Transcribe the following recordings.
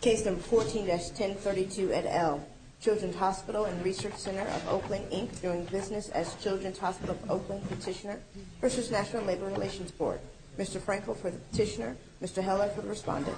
Case No. 14-1032 at L. Children's Hospital and Research Center of Oakland, Inc., doing business as Children's Hospital of Oakland Petitioner v. National Labor Relations Board. Mr. Frankel for the petitioner. Mr. Heller for the respondent.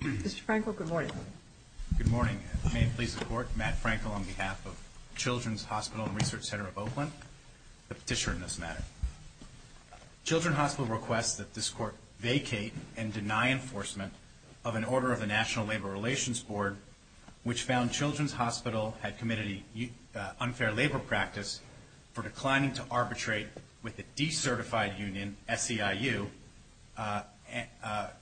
Mr. Frankel, good morning. Good morning. May it please the Court, Matt Frankel on behalf of Children's Hospital and Research Center of Oakland, the petitioner in this matter. Children's Hospital requests that this Court vacate and deny enforcement of an order of the National Labor Relations Board which found Children's Hospital had committed unfair labor practice for declining to arbitrate with a decertified union, SEIU,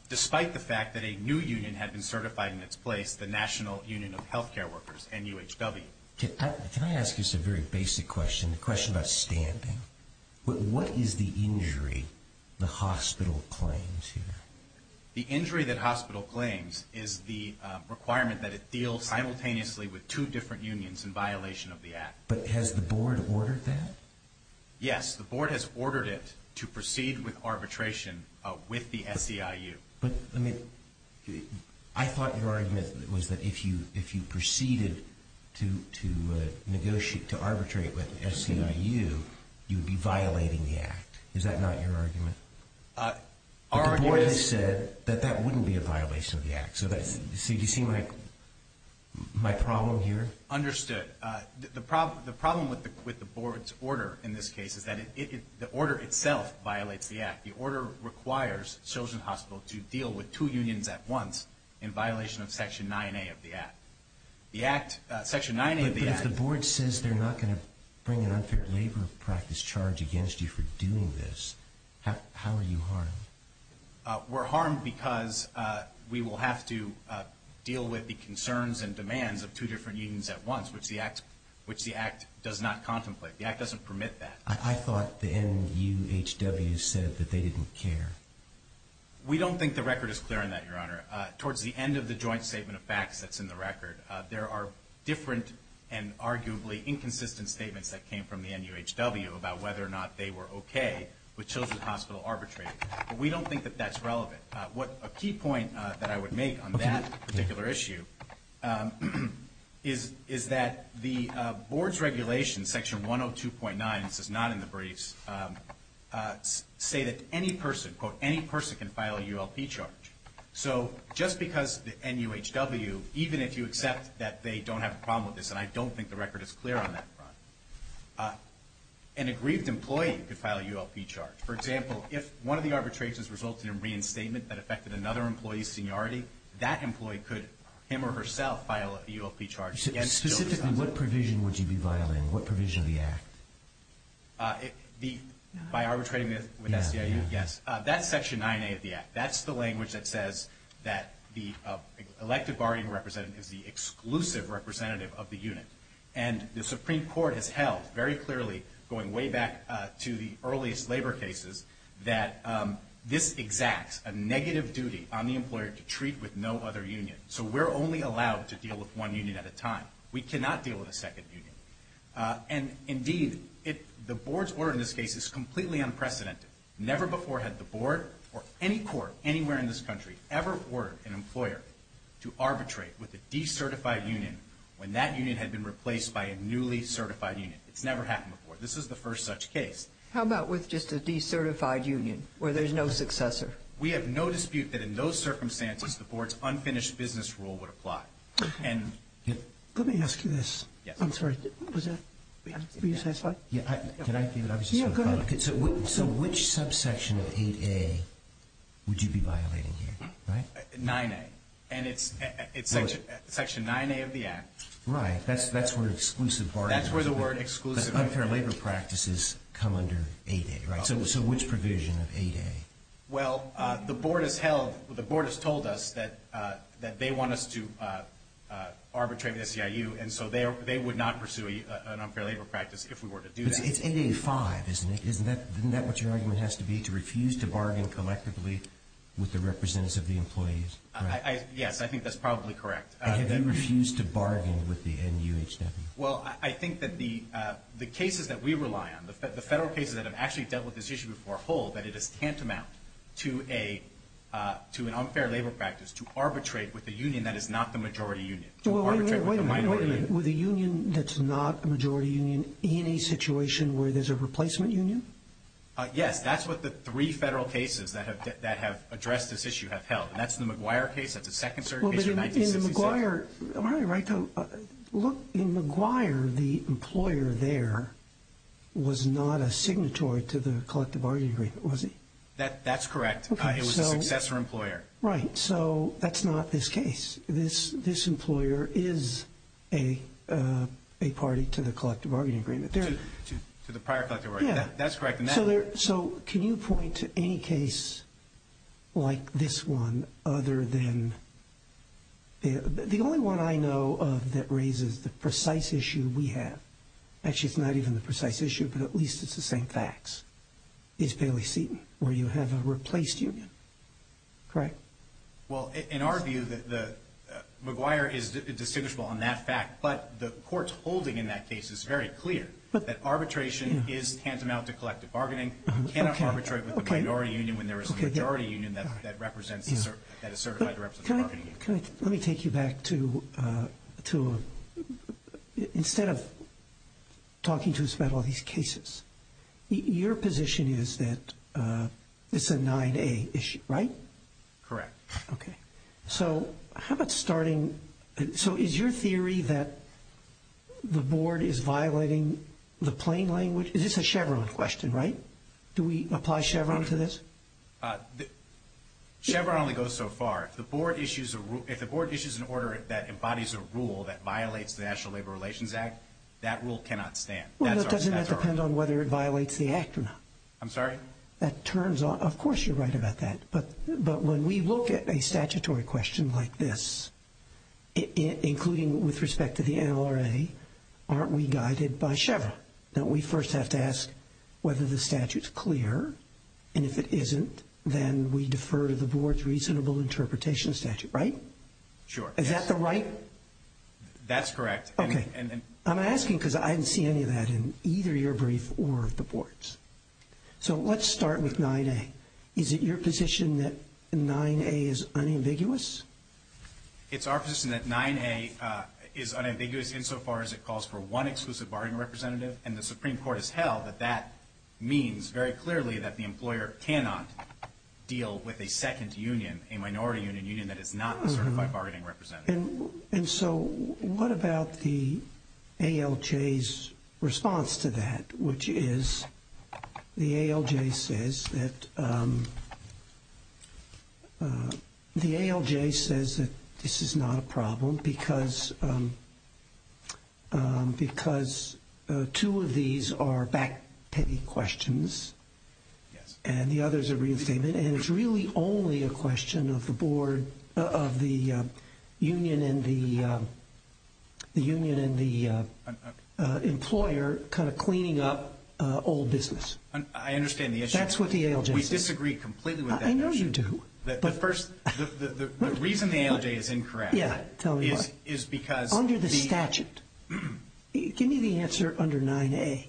despite the fact that a new union had been certified in its place, the National Union of Healthcare Workers, NUHW. Can I ask you a very basic question, a question about standing? What is the injury the hospital claims here? The injury that hospital claims is the requirement that it deal simultaneously with two different unions in violation of the Act. But has the Board ordered that? Yes, the Board has ordered it to proceed with arbitration with the SEIU. But I thought your argument was that if you proceeded to negotiate, to arbitrate with SEIU, you would be violating the Act. Is that not your argument? Our argument is... But the Board has said that that wouldn't be a violation of the Act. So do you see my problem here? Understood. The problem with the Board's order in this case is that the order itself violates the Act. The order requires Children's Hospital to deal with two unions at once in violation of Section 9A of the Act. The Act, Section 9A of the Act... But if the Board says they're not going to bring an unfair labor practice charge against you for doing this, how are you harmed? We're harmed because we will have to deal with the concerns and demands of two different unions at once, which the Act does not contemplate. The Act doesn't permit that. I thought the NUHW said that they didn't care. We don't think the record is clear on that, Your Honor. Towards the end of the joint statement of facts that's in the record, there are different and arguably inconsistent statements that came from the NUHW about whether or not they were okay with Children's Hospital arbitrating. But we don't think that that's relevant. A key point that I would make on that particular issue is that the Board's regulations, Section 102.9, this is not in the briefs, say that any person, quote, any person can file a ULP charge. So just because the NUHW, even if you accept that they don't have a problem with this, and I don't think the record is clear on that, an aggrieved employee could file a ULP charge. For example, if one of the arbitrations resulted in reinstatement that affected another employee's seniority, that employee could him or herself file a ULP charge against Children's Hospital. Specifically, what provision would you be violating? What provision of the Act? By arbitrating with SCIU? Yes. That's Section 9A of the Act. That's the language that says that the elected bargaining representative is the exclusive representative of the unit. And the Supreme Court has held very clearly, going way back to the earliest labor cases, that this exacts a negative duty on the employer to treat with no other union. So we're only allowed to deal with one union at a time. We cannot deal with a second union. And indeed, the board's order in this case is completely unprecedented. Never before had the board or any court anywhere in this country ever ordered an employer to arbitrate with a decertified union when that union had been replaced by a newly certified union. It's never happened before. This is the first such case. How about with just a decertified union, where there's no successor? We have no dispute that in those circumstances, the board's unfinished business rule would apply. Let me ask you this. I'm sorry. Were you satisfied? Can I give an obvious example? Yeah, go ahead. So which subsection of 8A would you be violating here, right? 9A. And it's Section 9A of the Act. Right. That's where exclusive bargaining is. That's where the word exclusive. Unfair labor practices come under 8A, right? So which provision of 8A? Well, the board has told us that they want us to arbitrate with the CIU, and so they would not pursue an unfair labor practice if we were to do that. It's 8A-5, isn't it? Isn't that what your argument has to be, to refuse to bargain collectively with the representatives of the employees? Yes, I think that's probably correct. And have you refused to bargain with the NUHW? Well, I think that the cases that we rely on, the Federal cases that have actually dealt with this issue before hold that it is tantamount to an unfair labor practice to arbitrate with a union that is not the majority union, to arbitrate with a minority union. Wait a minute. With a union that's not a majority union in a situation where there's a replacement union? Yes. That's what the three Federal cases that have addressed this issue have held. And that's the McGuire case. That's the second certain case of 1966. Am I right, though? Look, in McGuire, the employer there was not a signatory to the collective bargaining agreement, was he? That's correct. It was a successor employer. Right. So that's not this case. This employer is a party to the collective bargaining agreement. To the prior collective bargaining agreement. That's correct. So can you point to any case like this one other than the only one I know of that raises the precise issue we have. Actually, it's not even the precise issue, but at least it's the same facts. It's Bailey-Seaton, where you have a replaced union. Correct? Well, in our view, McGuire is distinguishable on that fact. But the court's holding in that case is very clear, that arbitration is tantamount to collective bargaining. You cannot arbitrate with the minority union when there is a majority union that is certified to represent the bargaining agreement. Let me take you back to instead of talking to us about all these cases, your position is that it's a 9A issue, right? Correct. Okay. So how about starting, so is your theory that the board is violating the plain language? This is a Chevron question, right? Do we apply Chevron to this? Chevron only goes so far. If the board issues an order that embodies a rule that violates the National Labor Relations Act, that rule cannot stand. Well, doesn't that depend on whether it violates the act or not? I'm sorry? Of course you're right about that. But when we look at a statutory question like this, including with respect to the NLRA, aren't we guided by Chevron? Don't we first have to ask whether the statute's clear? And if it isn't, then we defer to the board's reasonable interpretation statute, right? Sure. Is that the right? That's correct. Okay. I'm asking because I didn't see any of that in either your brief or the board's. So let's start with 9A. Is it your position that 9A is unambiguous? It's our position that 9A is unambiguous insofar as it calls for one exclusive bargaining representative, and the Supreme Court has held that that means very clearly that the employer cannot deal with a second union, a minority union, a union that is not a certified bargaining representative. And so what about the ALJ's response to that, which is the ALJ says that this is not a problem because two of these are back-piggy questions and the other is a reinstatement, and it's really only a question of the board, of the union and the employer kind of cleaning up old business. I understand the issue. That's what the ALJ says. We disagree completely with that notion. I know you do. The reason the ALJ is incorrect is because the — Under the statute. Give me the answer under 9A.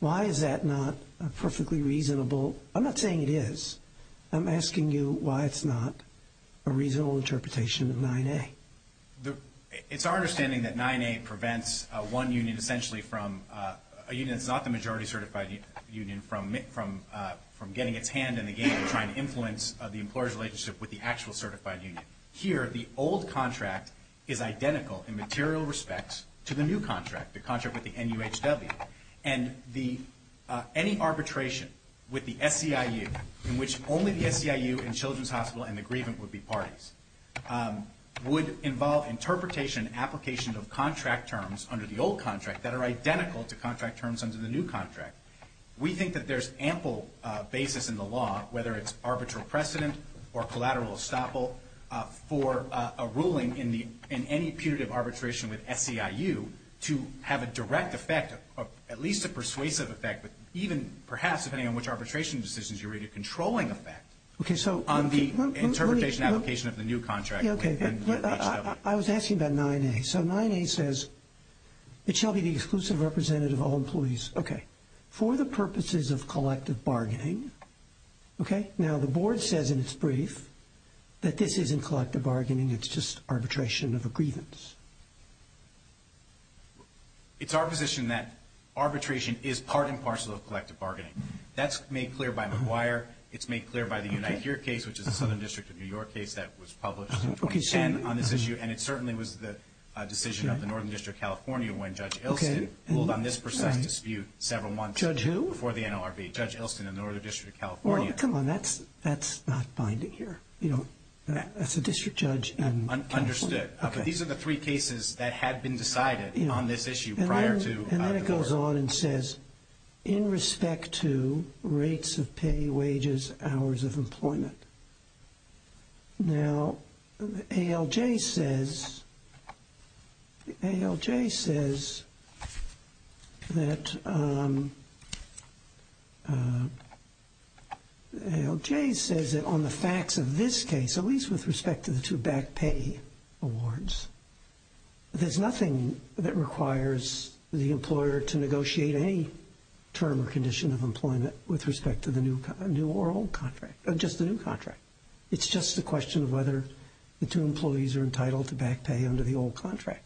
Why is that not a perfectly reasonable — I'm not saying it is. I'm asking you why it's not a reasonable interpretation of 9A. It's our understanding that 9A prevents one union essentially from — a union that's not the majority certified union from getting its hand in the game and trying to influence the employer's relationship with the actual certified union. Here, the old contract is identical in material respect to the new contract, the contract with the NUHW, and any arbitration with the SCIU, in which only the SCIU and Children's Hospital and the grievance would be parties, would involve interpretation and application of contract terms under the old contract that are identical to contract terms under the new contract. We think that there's ample basis in the law, whether it's arbitral precedent or collateral estoppel, for a ruling in any punitive arbitration with SCIU to have a direct effect, at least a persuasive effect, but even perhaps, depending on which arbitration decisions you read, a controlling effect on the interpretation and application of the new contract with NUHW. I was asking about 9A. So 9A says it shall be the exclusive representative of all employees. Okay. For the purposes of collective bargaining. Okay. Now, the board says in its brief that this isn't collective bargaining. It's just arbitration of a grievance. It's our position that arbitration is part and parcel of collective bargaining. That's made clear by McGuire. It's made clear by the Unite Here case, which is a Southern District of New York case that was published in 2010 on this issue, and it certainly was the decision of the Northern District of California when Judge Ilston ruled on this precise dispute several months before the NLRB. Judge who? Judge Ilston in the Northern District of California. Well, come on. That's not binding here. That's a district judge in California. Understood. But these are the three cases that had been decided on this issue prior to the board. And then it goes on and says, in respect to rates of pay, wages, hours of employment. Now, ALJ says that on the facts of this case, at least with respect to the two back pay awards, there's nothing that requires the employer to negotiate any term or condition of employment with respect to the new or old contract, just the new contract. It's just a question of whether the two employees are entitled to back pay under the old contract.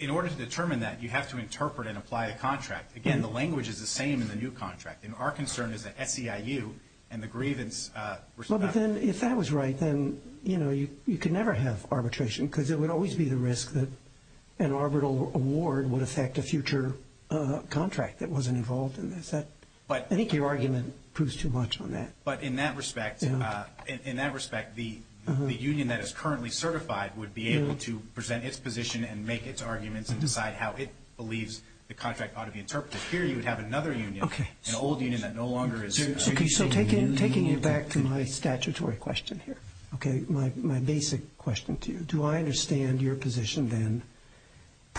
In order to determine that, you have to interpret and apply a contract. Again, the language is the same in the new contract, and our concern is that SEIU and the grievance respect. Well, but then if that was right, then, you know, you could never have arbitration because it would always be the risk that an arbitral award would affect a future contract that wasn't involved in this. I think your argument proves too much on that. But in that respect, the union that is currently certified would be able to present its position and make its arguments and decide how it believes the contract ought to be interpreted. Here you would have another union, an old union that no longer is. So taking it back to my statutory question here, my basic question to you, do I understand your position then,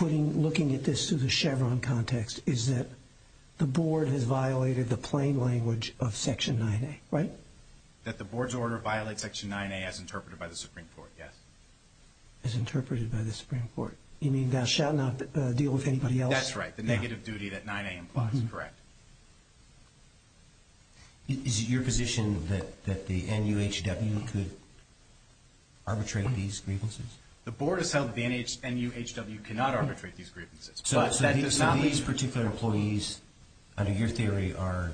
looking at this through the Chevron context, is that the board has violated the plain language of Section 9A, right? That the board's order violates Section 9A as interpreted by the Supreme Court, yes. As interpreted by the Supreme Court. You mean that it shall not deal with anybody else? That's right, the negative duty that 9A implies is correct. Is it your position that the NUHW could arbitrate these grievances? The board has held that the NUHW cannot arbitrate these grievances. So these particular employees, under your theory, are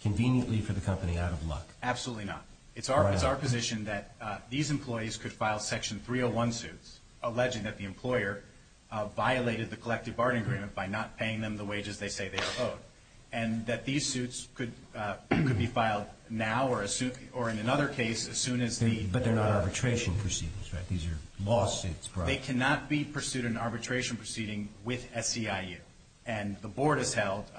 conveniently for the company out of luck? Absolutely not. It's our position that these employees could file Section 301 suits, alleging that the employer violated the collective bargaining agreement by not paying them the wages they say they are owed, and that these suits could be filed now or in another case as soon as the- But they're not arbitration proceedings, right? These are lawsuits brought- They cannot be pursued in arbitration proceeding with SEIU. And the board has held-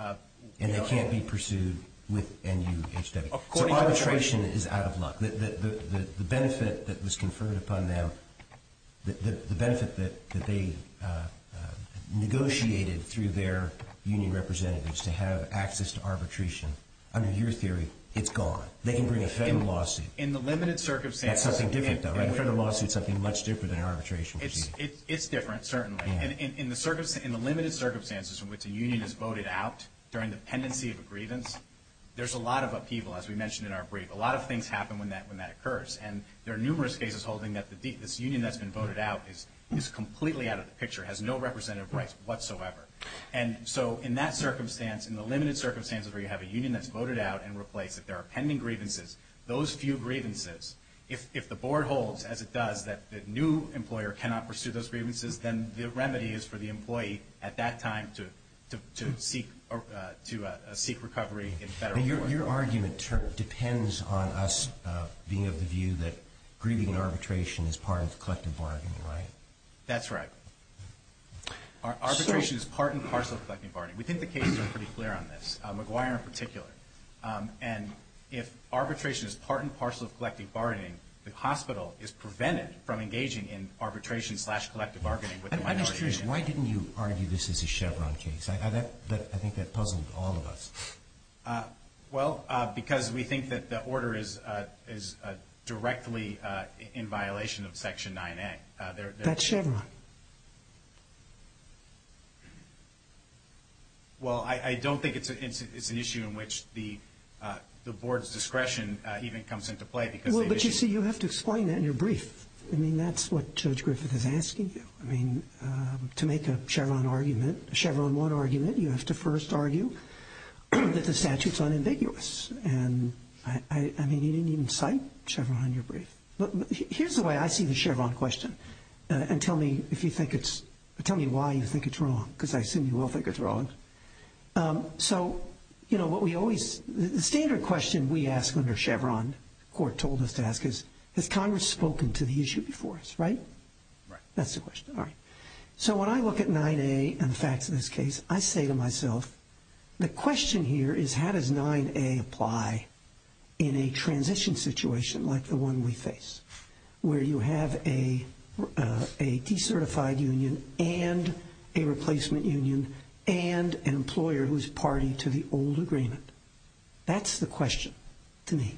And they can't be pursued with NUHW. So arbitration is out of luck. The benefit that was conferred upon them, the benefit that they negotiated through their union representatives to have access to arbitration, under your theory, it's gone. They can bring a federal lawsuit. In the limited circumstances- That's something different, though, right? A federal lawsuit is something much different than an arbitration proceeding. It's different, certainly. In the limited circumstances in which a union is voted out during the pendency of a grievance, there's a lot of upheaval, as we mentioned in our brief. A lot of things happen when that occurs. And there are numerous cases holding that this union that's been voted out is completely out of the picture, has no representative rights whatsoever. And so in that circumstance, in the limited circumstances where you have a union that's voted out and replaced, that there are pending grievances, those few grievances, if the board holds, as it does, that the new employer cannot pursue those grievances, then the remedy is for the employee at that time to seek recovery in federal court. Your argument depends on us being of the view that grieving and arbitration is part of collective bargaining, right? That's right. Arbitration is part and parcel of collective bargaining. We think the cases are pretty clear on this, McGuire in particular. And if arbitration is part and parcel of collective bargaining, the hospital is prevented from engaging in arbitration slash collective bargaining with the minority. I'm just curious, why didn't you argue this as a Chevron case? I think that puzzled all of us. Well, because we think that the order is directly in violation of Section 9A. That's Chevron. Well, I don't think it's an issue in which the board's discretion even comes into play because the issue is. Well, but you see, you have to explain that in your brief. I mean, that's what Judge Griffith is asking you. I mean, to make a Chevron argument, a Chevron 1 argument, you have to first argue that the statute's unambiguous. And, I mean, you didn't even cite Chevron in your brief. Here's the way I see the Chevron question. And tell me if you think it's – tell me why you think it's wrong because I assume you will think it's wrong. So, you know, what we always – the standard question we ask under Chevron, the court told us to ask is, has Congress spoken to the issue before us, right? Right. That's the question. All right. So when I look at 9A and the facts of this case, I say to myself, the question here is how does 9A apply in a transition situation like the one we face, where you have a decertified union and a replacement union and an employer who's party to the old agreement? That's the question to me.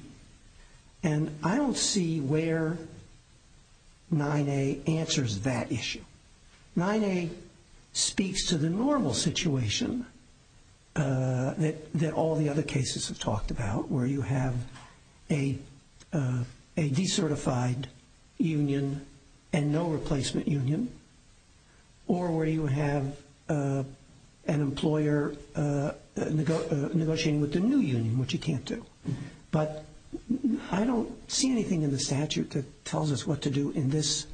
And I don't see where 9A answers that issue. 9A speaks to the normal situation that all the other cases have talked about, where you have a decertified union and no replacement union, or where you have an employer negotiating with the new union, which you can't do. But I don't see anything in the statute that tells us what to do in this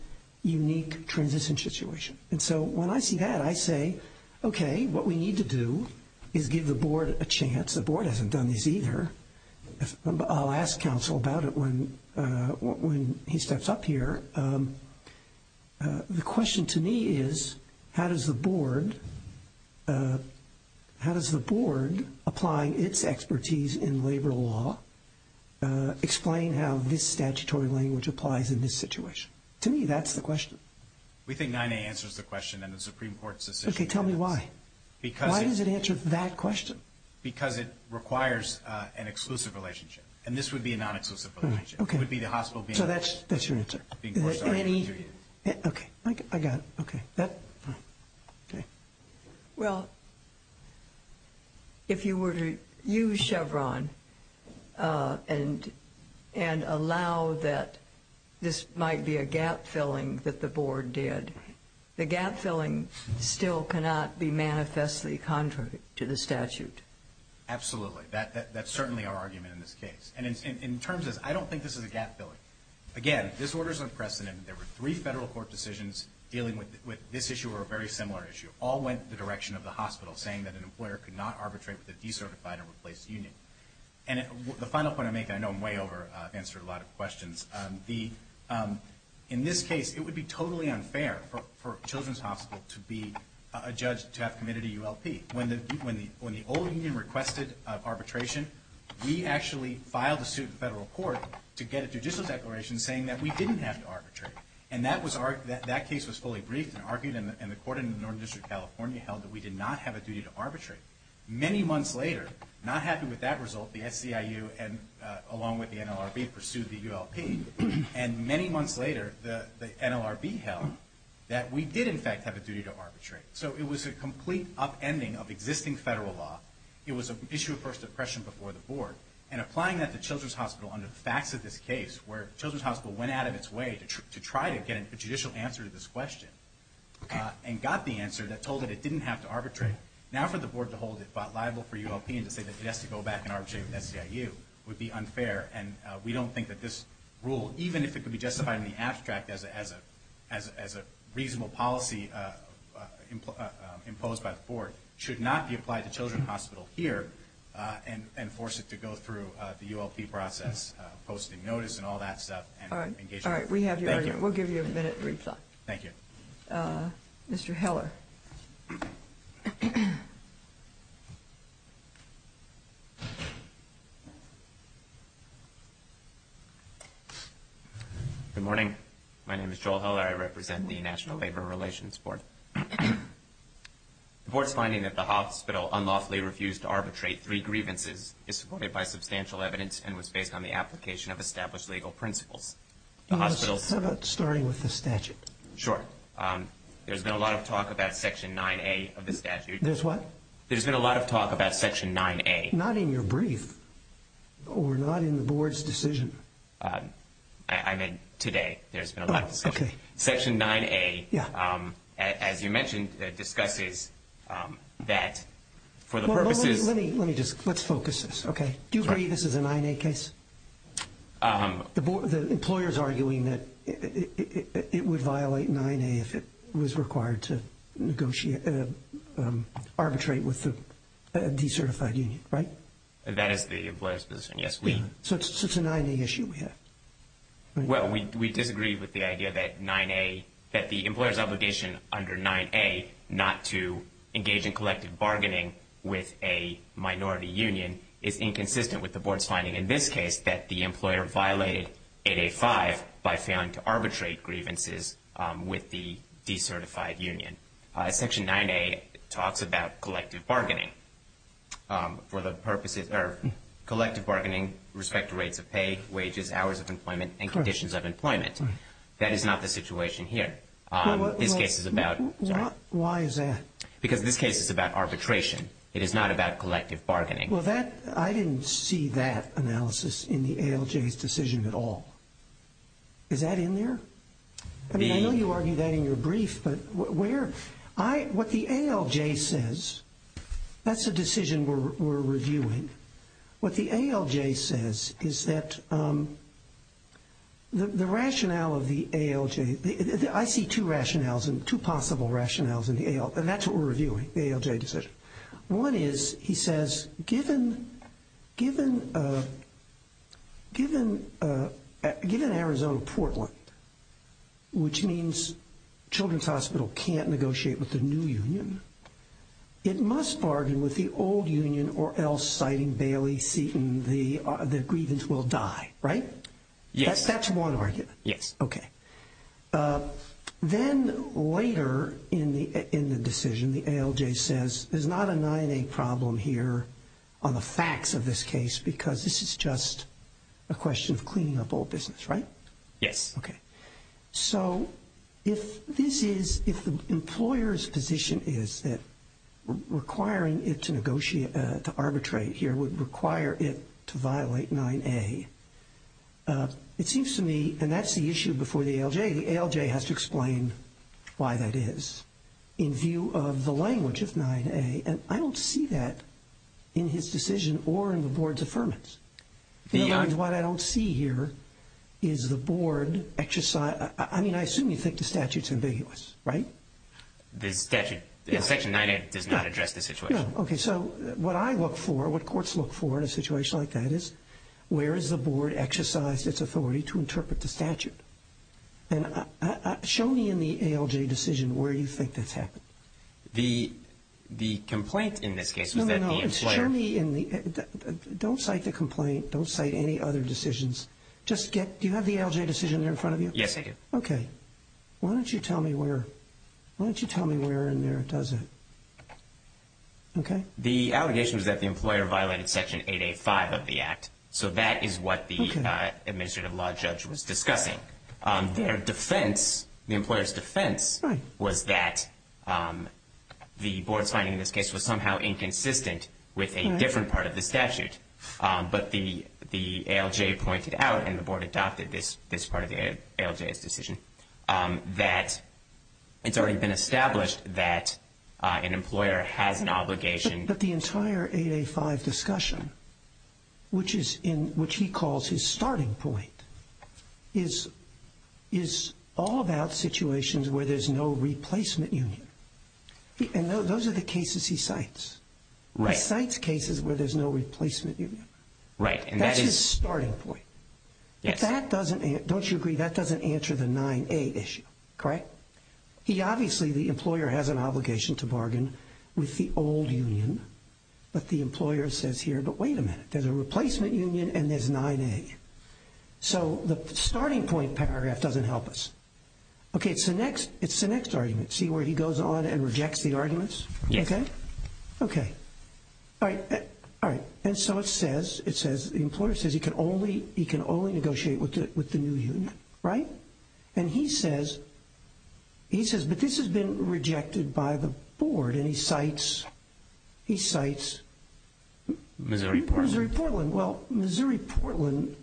unique transition situation. And so when I see that, I say, okay, what we need to do is give the board a chance. The board hasn't done this either. I'll ask counsel about it when he steps up here. The question to me is how does the board applying its expertise in labor law explain how this statutory language applies in this situation? To me, that's the question. We think 9A answers the question and the Supreme Court's decision. Okay. Tell me why. Why does it answer that question? Because it requires an exclusive relationship. And this would be a non-exclusive relationship. So that's your answer. Okay. I got it. Well, if you were to use Chevron and allow that this might be a gap-filling that the board did, the gap-filling still cannot be manifestly contrary to the statute. Absolutely. That's certainly our argument in this case. And in terms of this, I don't think this is a gap-filling. Again, this order is unprecedented. There were three federal court decisions dealing with this issue or a very similar issue. All went in the direction of the hospital, saying that an employer could not arbitrate with a decertified or replaced union. And the final point I make, and I know I'm way over, I've answered a lot of questions. In this case, it would be totally unfair for Children's Hospital to be a judge to have committed a ULP. When the old union requested arbitration, we actually filed a suit in federal court to get a judicial declaration saying that we didn't have to arbitrate. And that case was fully briefed and argued, and the court in the Northern District of California held that we did not have a duty to arbitrate. Many months later, not happy with that result, the SCIU, along with the NLRB, pursued the ULP. And many months later, the NLRB held that we did, in fact, have a duty to arbitrate. So it was a complete upending of existing federal law. It was an issue of first impression before the board. And applying that to Children's Hospital under the facts of this case, where Children's Hospital went out of its way to try to get a judicial answer to this question, and got the answer that told it it didn't have to arbitrate. Now for the board to hold it liable for ULP and to say that it has to go back and arbitrate with SCIU would be unfair. And we don't think that this rule, even if it could be justified in the abstract as a reasonable policy imposed by the board, should not be applied to Children's Hospital here and force it to go through the ULP process, posting notice and all that stuff. All right. All right. We have your argument. Thank you. We'll give you a minute to reply. Thank you. Mr. Heller. Good morning. My name is Joel Heller. I represent the National Labor Relations Board. The board's finding that the hospital unlawfully refused to arbitrate three grievances is supported by substantial evidence and was based on the application of established legal principles. How about starting with the statute? Sure. There's been a lot of talk about Section 9A of the statute. There's what? There's been a lot of talk about Section 9A. Not in your brief or not in the board's decision. I meant today. There's been a lot of discussion. Okay. Section 9A, as you mentioned, discusses that for the purposes of... Let me just focus this. Do you agree this is a 9A case? The employer's arguing that it would violate 9A if it was required to arbitrate with a decertified union, right? That is the employer's position, yes. So it's a 9A issue we have. Well, we disagree with the idea that the employer's obligation under 9A not to engage in collective bargaining with a minority union is inconsistent with the board's finding in this case that the employer violated 8A-5 by failing to arbitrate grievances with the decertified union. Section 9A talks about collective bargaining for the purposes of collective bargaining with respect to rates of pay, wages, hours of employment, and conditions of employment. That is not the situation here. This case is about... Why is that? Because this case is about arbitration. It is not about collective bargaining. Well, that... I didn't see that analysis in the ALJ's decision at all. Is that in there? I mean, I know you argued that in your brief, but where... What the ALJ says... That's a decision we're reviewing. What the ALJ says is that the rationale of the ALJ... I see two possible rationales in the ALJ, and that's what we're reviewing, the ALJ decision. One is, he says, given Arizona-Portland, which means Children's Hospital can't negotiate with the new union, it must bargain with the old union or else, citing Bailey-Seaton, the grievance will die, right? Yes. That's one argument. Yes. Okay. Then later in the decision, the ALJ says, there's not a 9A problem here on the facts of this case because this is just a question of cleaning up old business, right? Yes. Okay. So if this is... If the employer's position is that requiring it to negotiate, to arbitrate here would require it to violate 9A, it seems to me... And that's the issue before the ALJ. The ALJ has to explain why that is in view of the language of 9A, and I don't see that in his decision or in the board's affirmance. What I don't see here is the board... I mean, I assume you think the statute's ambiguous, right? The statute... Section 9A does not address this situation. No. Okay. So what I look for, what courts look for in a situation like that is, where has the board exercised its authority to interpret the statute? And show me in the ALJ decision where you think that's happened. The complaint in this case was that the employer... No, no, no. Show me in the... Don't cite the complaint. Don't cite any other decisions. Just get... Do you have the ALJ decision there in front of you? Yes, I do. Okay. Why don't you tell me where... Why don't you tell me where in there it does it? Okay? The allegation is that the employer violated Section 8A-5 of the Act. So that is what the administrative law judge was discussing. Their defense, the employer's defense, was that the board's finding in this case was somehow inconsistent with a different part of the statute. But the ALJ pointed out, and the board adopted this part of the ALJ's decision, that it's already been established that an employer has an obligation... But the entire 8A-5 discussion, which he calls his starting point, is all about situations where there's no replacement union. And those are the cases he cites. Right. He cites cases where there's no replacement union. Right, and that is... That's his starting point. Yes. If that doesn't... Don't you agree that doesn't answer the 9A issue? Correct? He obviously... The employer has an obligation to bargain with the old union. But the employer says here, but wait a minute, there's a replacement union and there's 9A. So the starting point paragraph doesn't help us. Okay, it's the next argument. See where he goes on and rejects the arguments? Yes. Okay. Okay. All right. All right. And so it says, the employer says he can only negotiate with the new union. Right? And he says, but this has been rejected by the board, and he cites... Missouri-Portland. Missouri-Portland. Well, Missouri-Portland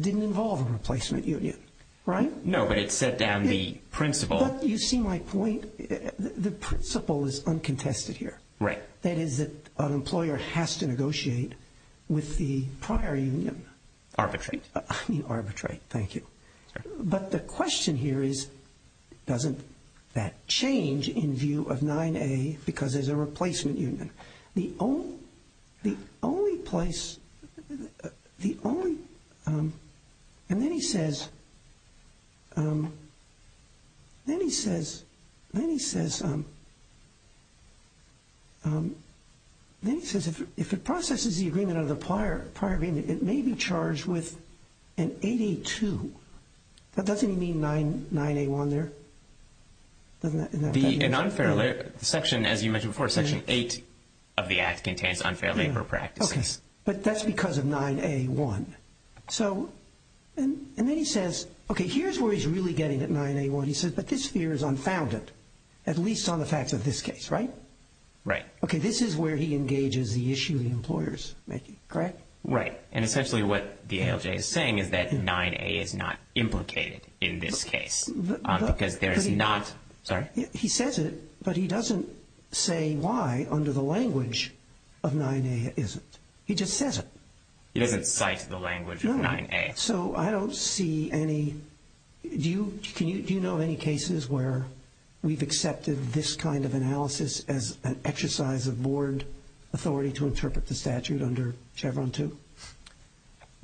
didn't involve a replacement union, right? No, but it set down the principle. But you see my point? The principle is uncontested here. Right. That is, an employer has to negotiate with the prior union. Arbitrate. I mean arbitrate. Thank you. But the question here is, doesn't that change in view of 9A because there's a replacement union? The only place, the only... And then he says, if it processes the agreement of the prior agreement, it may be charged with an 8A2. But doesn't he mean 9A1 there? The section, as you mentioned before, Section 8 of the Act contains unfair labor practices. But that's because of 9A1. And then he says, okay, here's where he's really getting at 9A1. He says, but this fear is unfounded, at least on the facts of this case, right? Right. Okay, this is where he engages the issue the employer's making, correct? Right. And essentially what the ALJ is saying is that 9A is not implicated in this case because there is not... Sorry? He says it, but he doesn't say why under the language of 9A isn't. He just says it. He doesn't cite the language of 9A. No. So I don't see any... Do you know of any cases where we've accepted this kind of analysis as an exercise of board authority to interpret the statute under Chevron 2?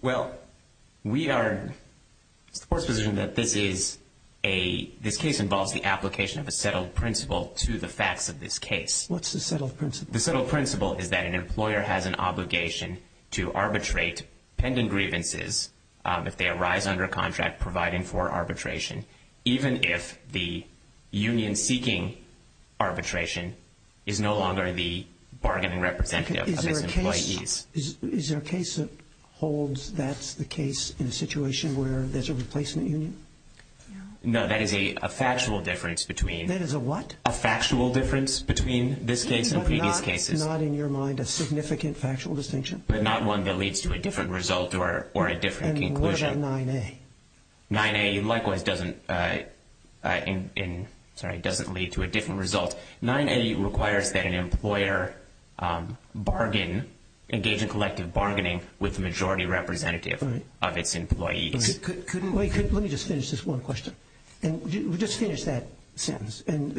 Well, we are... It's the Court's position that this is a... This case involves the application of a settled principle to the facts of this case. What's the settled principle? The settled principle is that an employer has an obligation to arbitrate pending grievances if they arise under a contract providing for arbitration, even if the union seeking arbitration is no longer the bargaining representative of its employees. Is there a case that holds that's the case in a situation where there's a replacement union? No. No, that is a factual difference between... That is a what? A factual difference between this case and previous cases. Not in your mind a significant factual distinction? But not one that leads to a different result or a different conclusion. And what about 9A? 9A likewise doesn't... Sorry, doesn't lead to a different result. 9A requires that an employer bargain, engage in collective bargaining, with the majority representative of its employees. Couldn't we... Let me just finish this one question. Just finish that sentence. And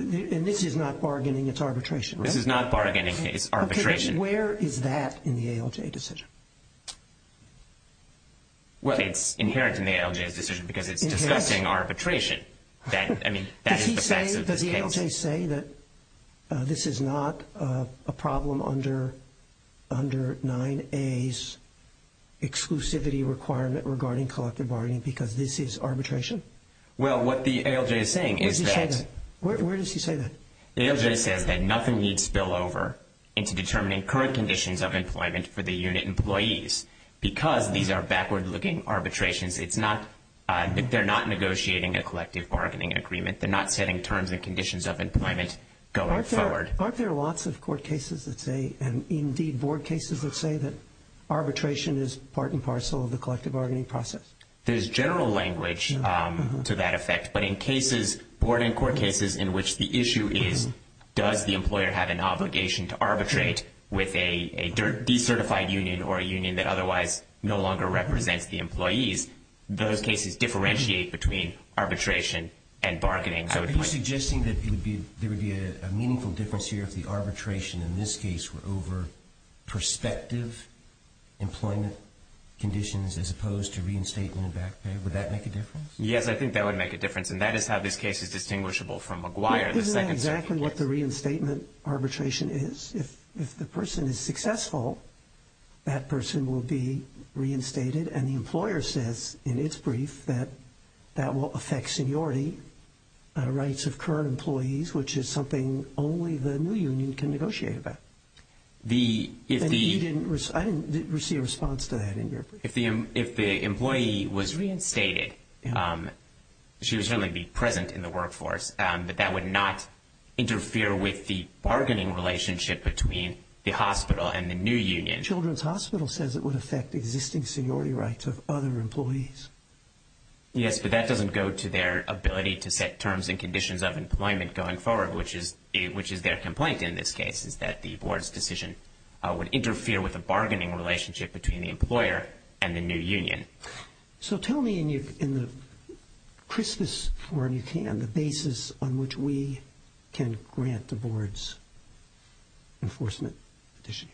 this is not bargaining, it's arbitration, right? This is not bargaining, it's arbitration. Where is that in the ALJ decision? Well, it's inherent in the ALJ's decision because it's discussing arbitration. Does he say, does the ALJ say that this is not a problem under 9A's exclusivity requirement regarding collective bargaining because this is arbitration? Well, what the ALJ is saying is that... Where does he say that? The ALJ says that nothing needs spillover into determining current conditions of employment for the unit employees because these are backward-looking arbitrations. It's not... They're not negotiating a collective bargaining agreement. They're not setting terms and conditions of employment going forward. Aren't there lots of court cases that say, and indeed board cases that say, that arbitration is part and parcel of the collective bargaining process? There's general language to that effect, but in cases, board and court cases in which the issue is, does the employer have an obligation to arbitrate with a decertified union or a union that otherwise no longer represents the employees, those cases differentiate between arbitration and bargaining. Are you suggesting that there would be a meaningful difference here if the arbitration in this case were over prospective employment conditions as opposed to reinstatement and back pay? Would that make a difference? Yes, I think that would make a difference, and that is how this case is distinguishable from McGuire, the second circuit case. Isn't that exactly what the reinstatement arbitration is? If the person is successful, that person will be reinstated, and the employer says in its brief that that will affect seniority, rights of current employees, which is something only the new union can negotiate about. I didn't receive a response to that in your brief. If the employee was reinstated, she would certainly be present in the workforce, but that would not interfere with the bargaining relationship between the hospital and the new union. Children's Hospital says it would affect existing seniority rights of other employees. Yes, but that doesn't go to their ability to set terms and conditions of employment going forward, which is their complaint in this case, is that the board's decision would interfere with the bargaining relationship between the employer and the new union. So tell me in the crispest form you can, the basis on which we can grant the board's enforcement petition.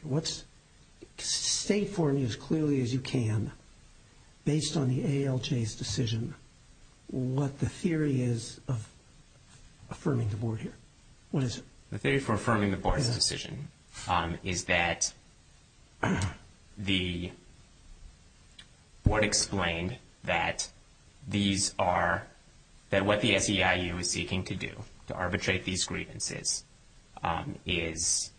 State for me as clearly as you can, based on the ALJ's decision, what the theory is of affirming the board here. What is it? The theory for affirming the board's decision is that the board explained that these are, that what the SEIU is seeking to do to arbitrate these grievances is,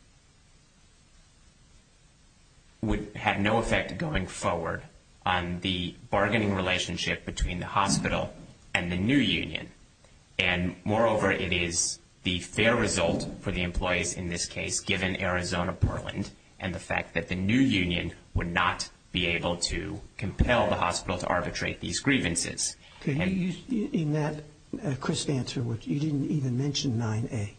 would have no effect going forward on the bargaining relationship between the hospital and the new union. And moreover, it is the fair result for the employees in this case, given Arizona Portland, and the fact that the new union would not be able to compel the hospital to arbitrate these grievances. In that crisp answer, you didn't even mention 9A.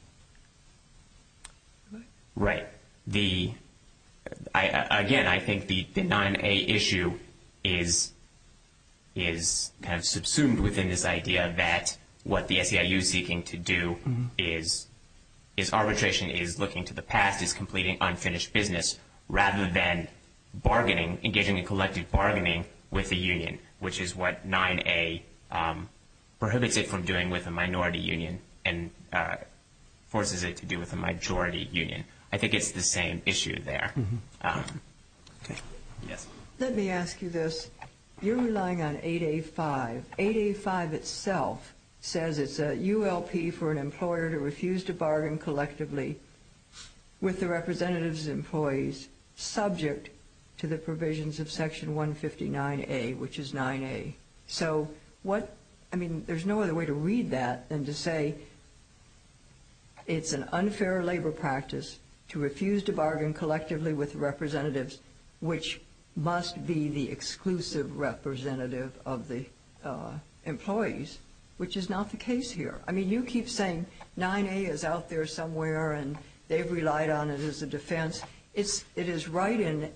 Right. Again, I think the 9A issue is kind of subsumed within this idea that what the SEIU is seeking to do is, is arbitration is looking to the past, is completing unfinished business, rather than bargaining, engaging in collective bargaining with the union, which is what 9A prohibits it from doing with the minority union and forces it to do with the majority union. I think it's the same issue there. Okay. Yes. Let me ask you this. You're relying on 8A-5. 8A-5 itself says it's a ULP for an employer to refuse to bargain collectively with the representative's employees, subject to the provisions of Section 159A, which is 9A. I mean, there's no other way to read that than to say it's an unfair labor practice to refuse to bargain collectively with representatives, which must be the exclusive representative of the employees, which is not the case here. I mean, you keep saying 9A is out there somewhere, and they've relied on it as a defense. It is right in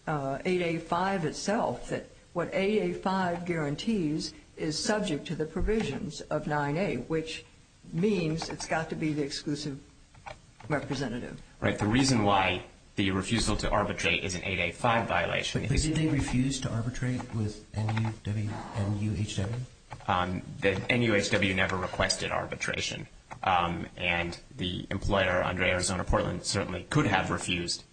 8A-5 itself that what 8A-5 guarantees is subject to the provisions of 9A, which means it's got to be the exclusive representative. Right. The reason why the refusal to arbitrate is an 8A-5 violation is… But did they refuse to arbitrate with NUHW? The NUHW never requested arbitration, and the employer, Andre Arizona Portland, certainly could have refused,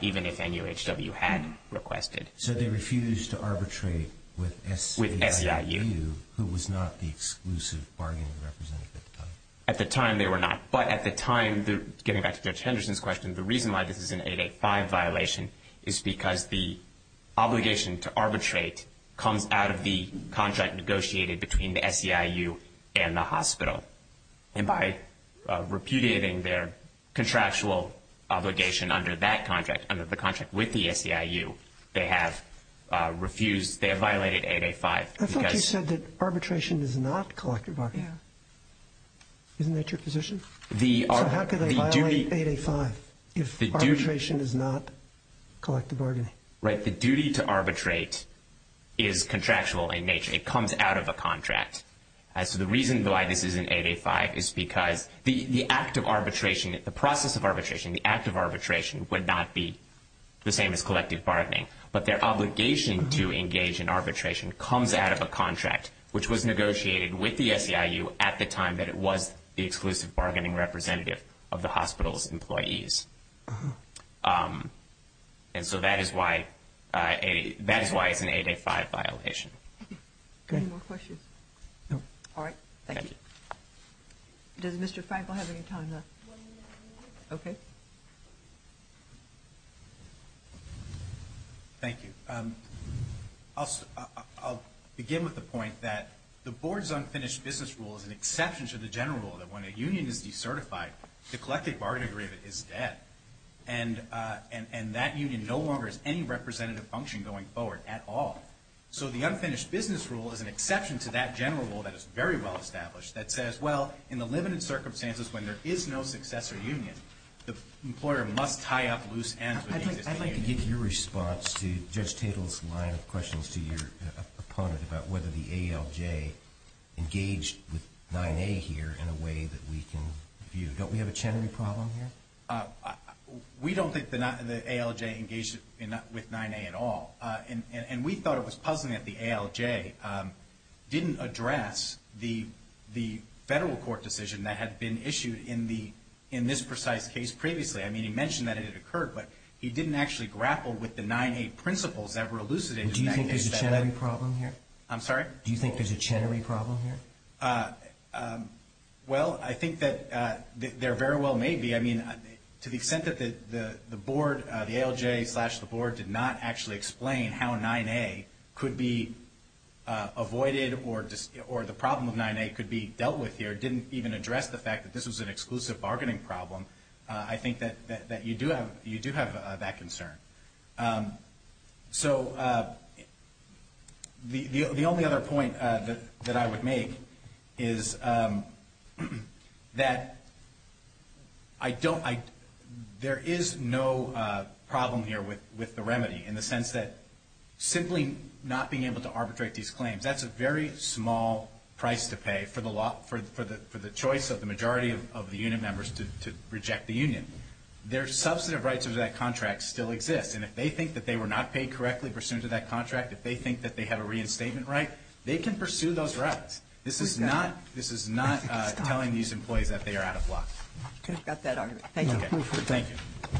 even if NUHW had requested. So they refused to arbitrate with SEIU, who was not the exclusive bargaining representative at the time? At the time, they were not. But at the time, getting back to Judge Henderson's question, the reason why this is an 8A-5 violation is because the obligation to arbitrate comes out of the contract negotiated between the SEIU and the hospital. And by repudiating their contractual obligation under that contract, under the contract with the SEIU, they have refused, they have violated 8A-5. I thought you said that arbitration is not collective bargaining. Yeah. Isn't that your position? So how could they violate 8A-5 if arbitration is not collective bargaining? The duty to arbitrate is contractual in nature. It comes out of a contract. So the reason why this is an 8A-5 is because the act of arbitration, the process of arbitration, the act of arbitration would not be the same as collective bargaining. But their obligation to engage in arbitration comes out of a contract, which was negotiated with the SEIU at the time that it was the exclusive bargaining representative of the hospital's employees. And so that is why it's an 8A-5 violation. Any more questions? No. All right. Thank you. Does Mr. Frankl have any time left? Okay. Thank you. I'll begin with the point that the board's unfinished business rule is an exception to the general rule that when a union is decertified, the collective bargaining agreement is dead. And that union no longer has any representative function going forward at all. So the unfinished business rule is an exception to that general rule that is very well established that says, well, in the limited circumstances when there is no successor union, the employer must tie up loose ends with the existing union. I'd like to get your response to Judge Tatel's line of questions to your opponent about whether the ALJ engaged with 9A here in a way that we can view. Don't we have a Chenery problem here? We don't think the ALJ engaged with 9A at all. And we thought it was puzzling that the ALJ didn't address the federal court decision that had been issued in this precise case previously. I mean, he mentioned that it had occurred, but he didn't actually grapple with the 9A principles that were elucidated. Do you think there's a Chenery problem here? I'm sorry? Do you think there's a Chenery problem here? Well, I think that there very well may be. I mean, to the extent that the board, the ALJ slash the board, did not actually explain how 9A could be avoided or the problem of 9A could be dealt with here, didn't even address the fact that this was an exclusive bargaining problem, I think that you do have that concern. So the only other point that I would make is that there is no problem here with the remedy in the sense that simply not being able to arbitrate these claims, that's a very small price to pay for the choice of the majority of the union members to reject the union. I mean, their substantive rights under that contract still exist, and if they think that they were not paid correctly pursuant to that contract, if they think that they have a reinstatement right, they can pursue those rights. This is not telling these employees that they are out of luck. Could have got that argument. Thank you.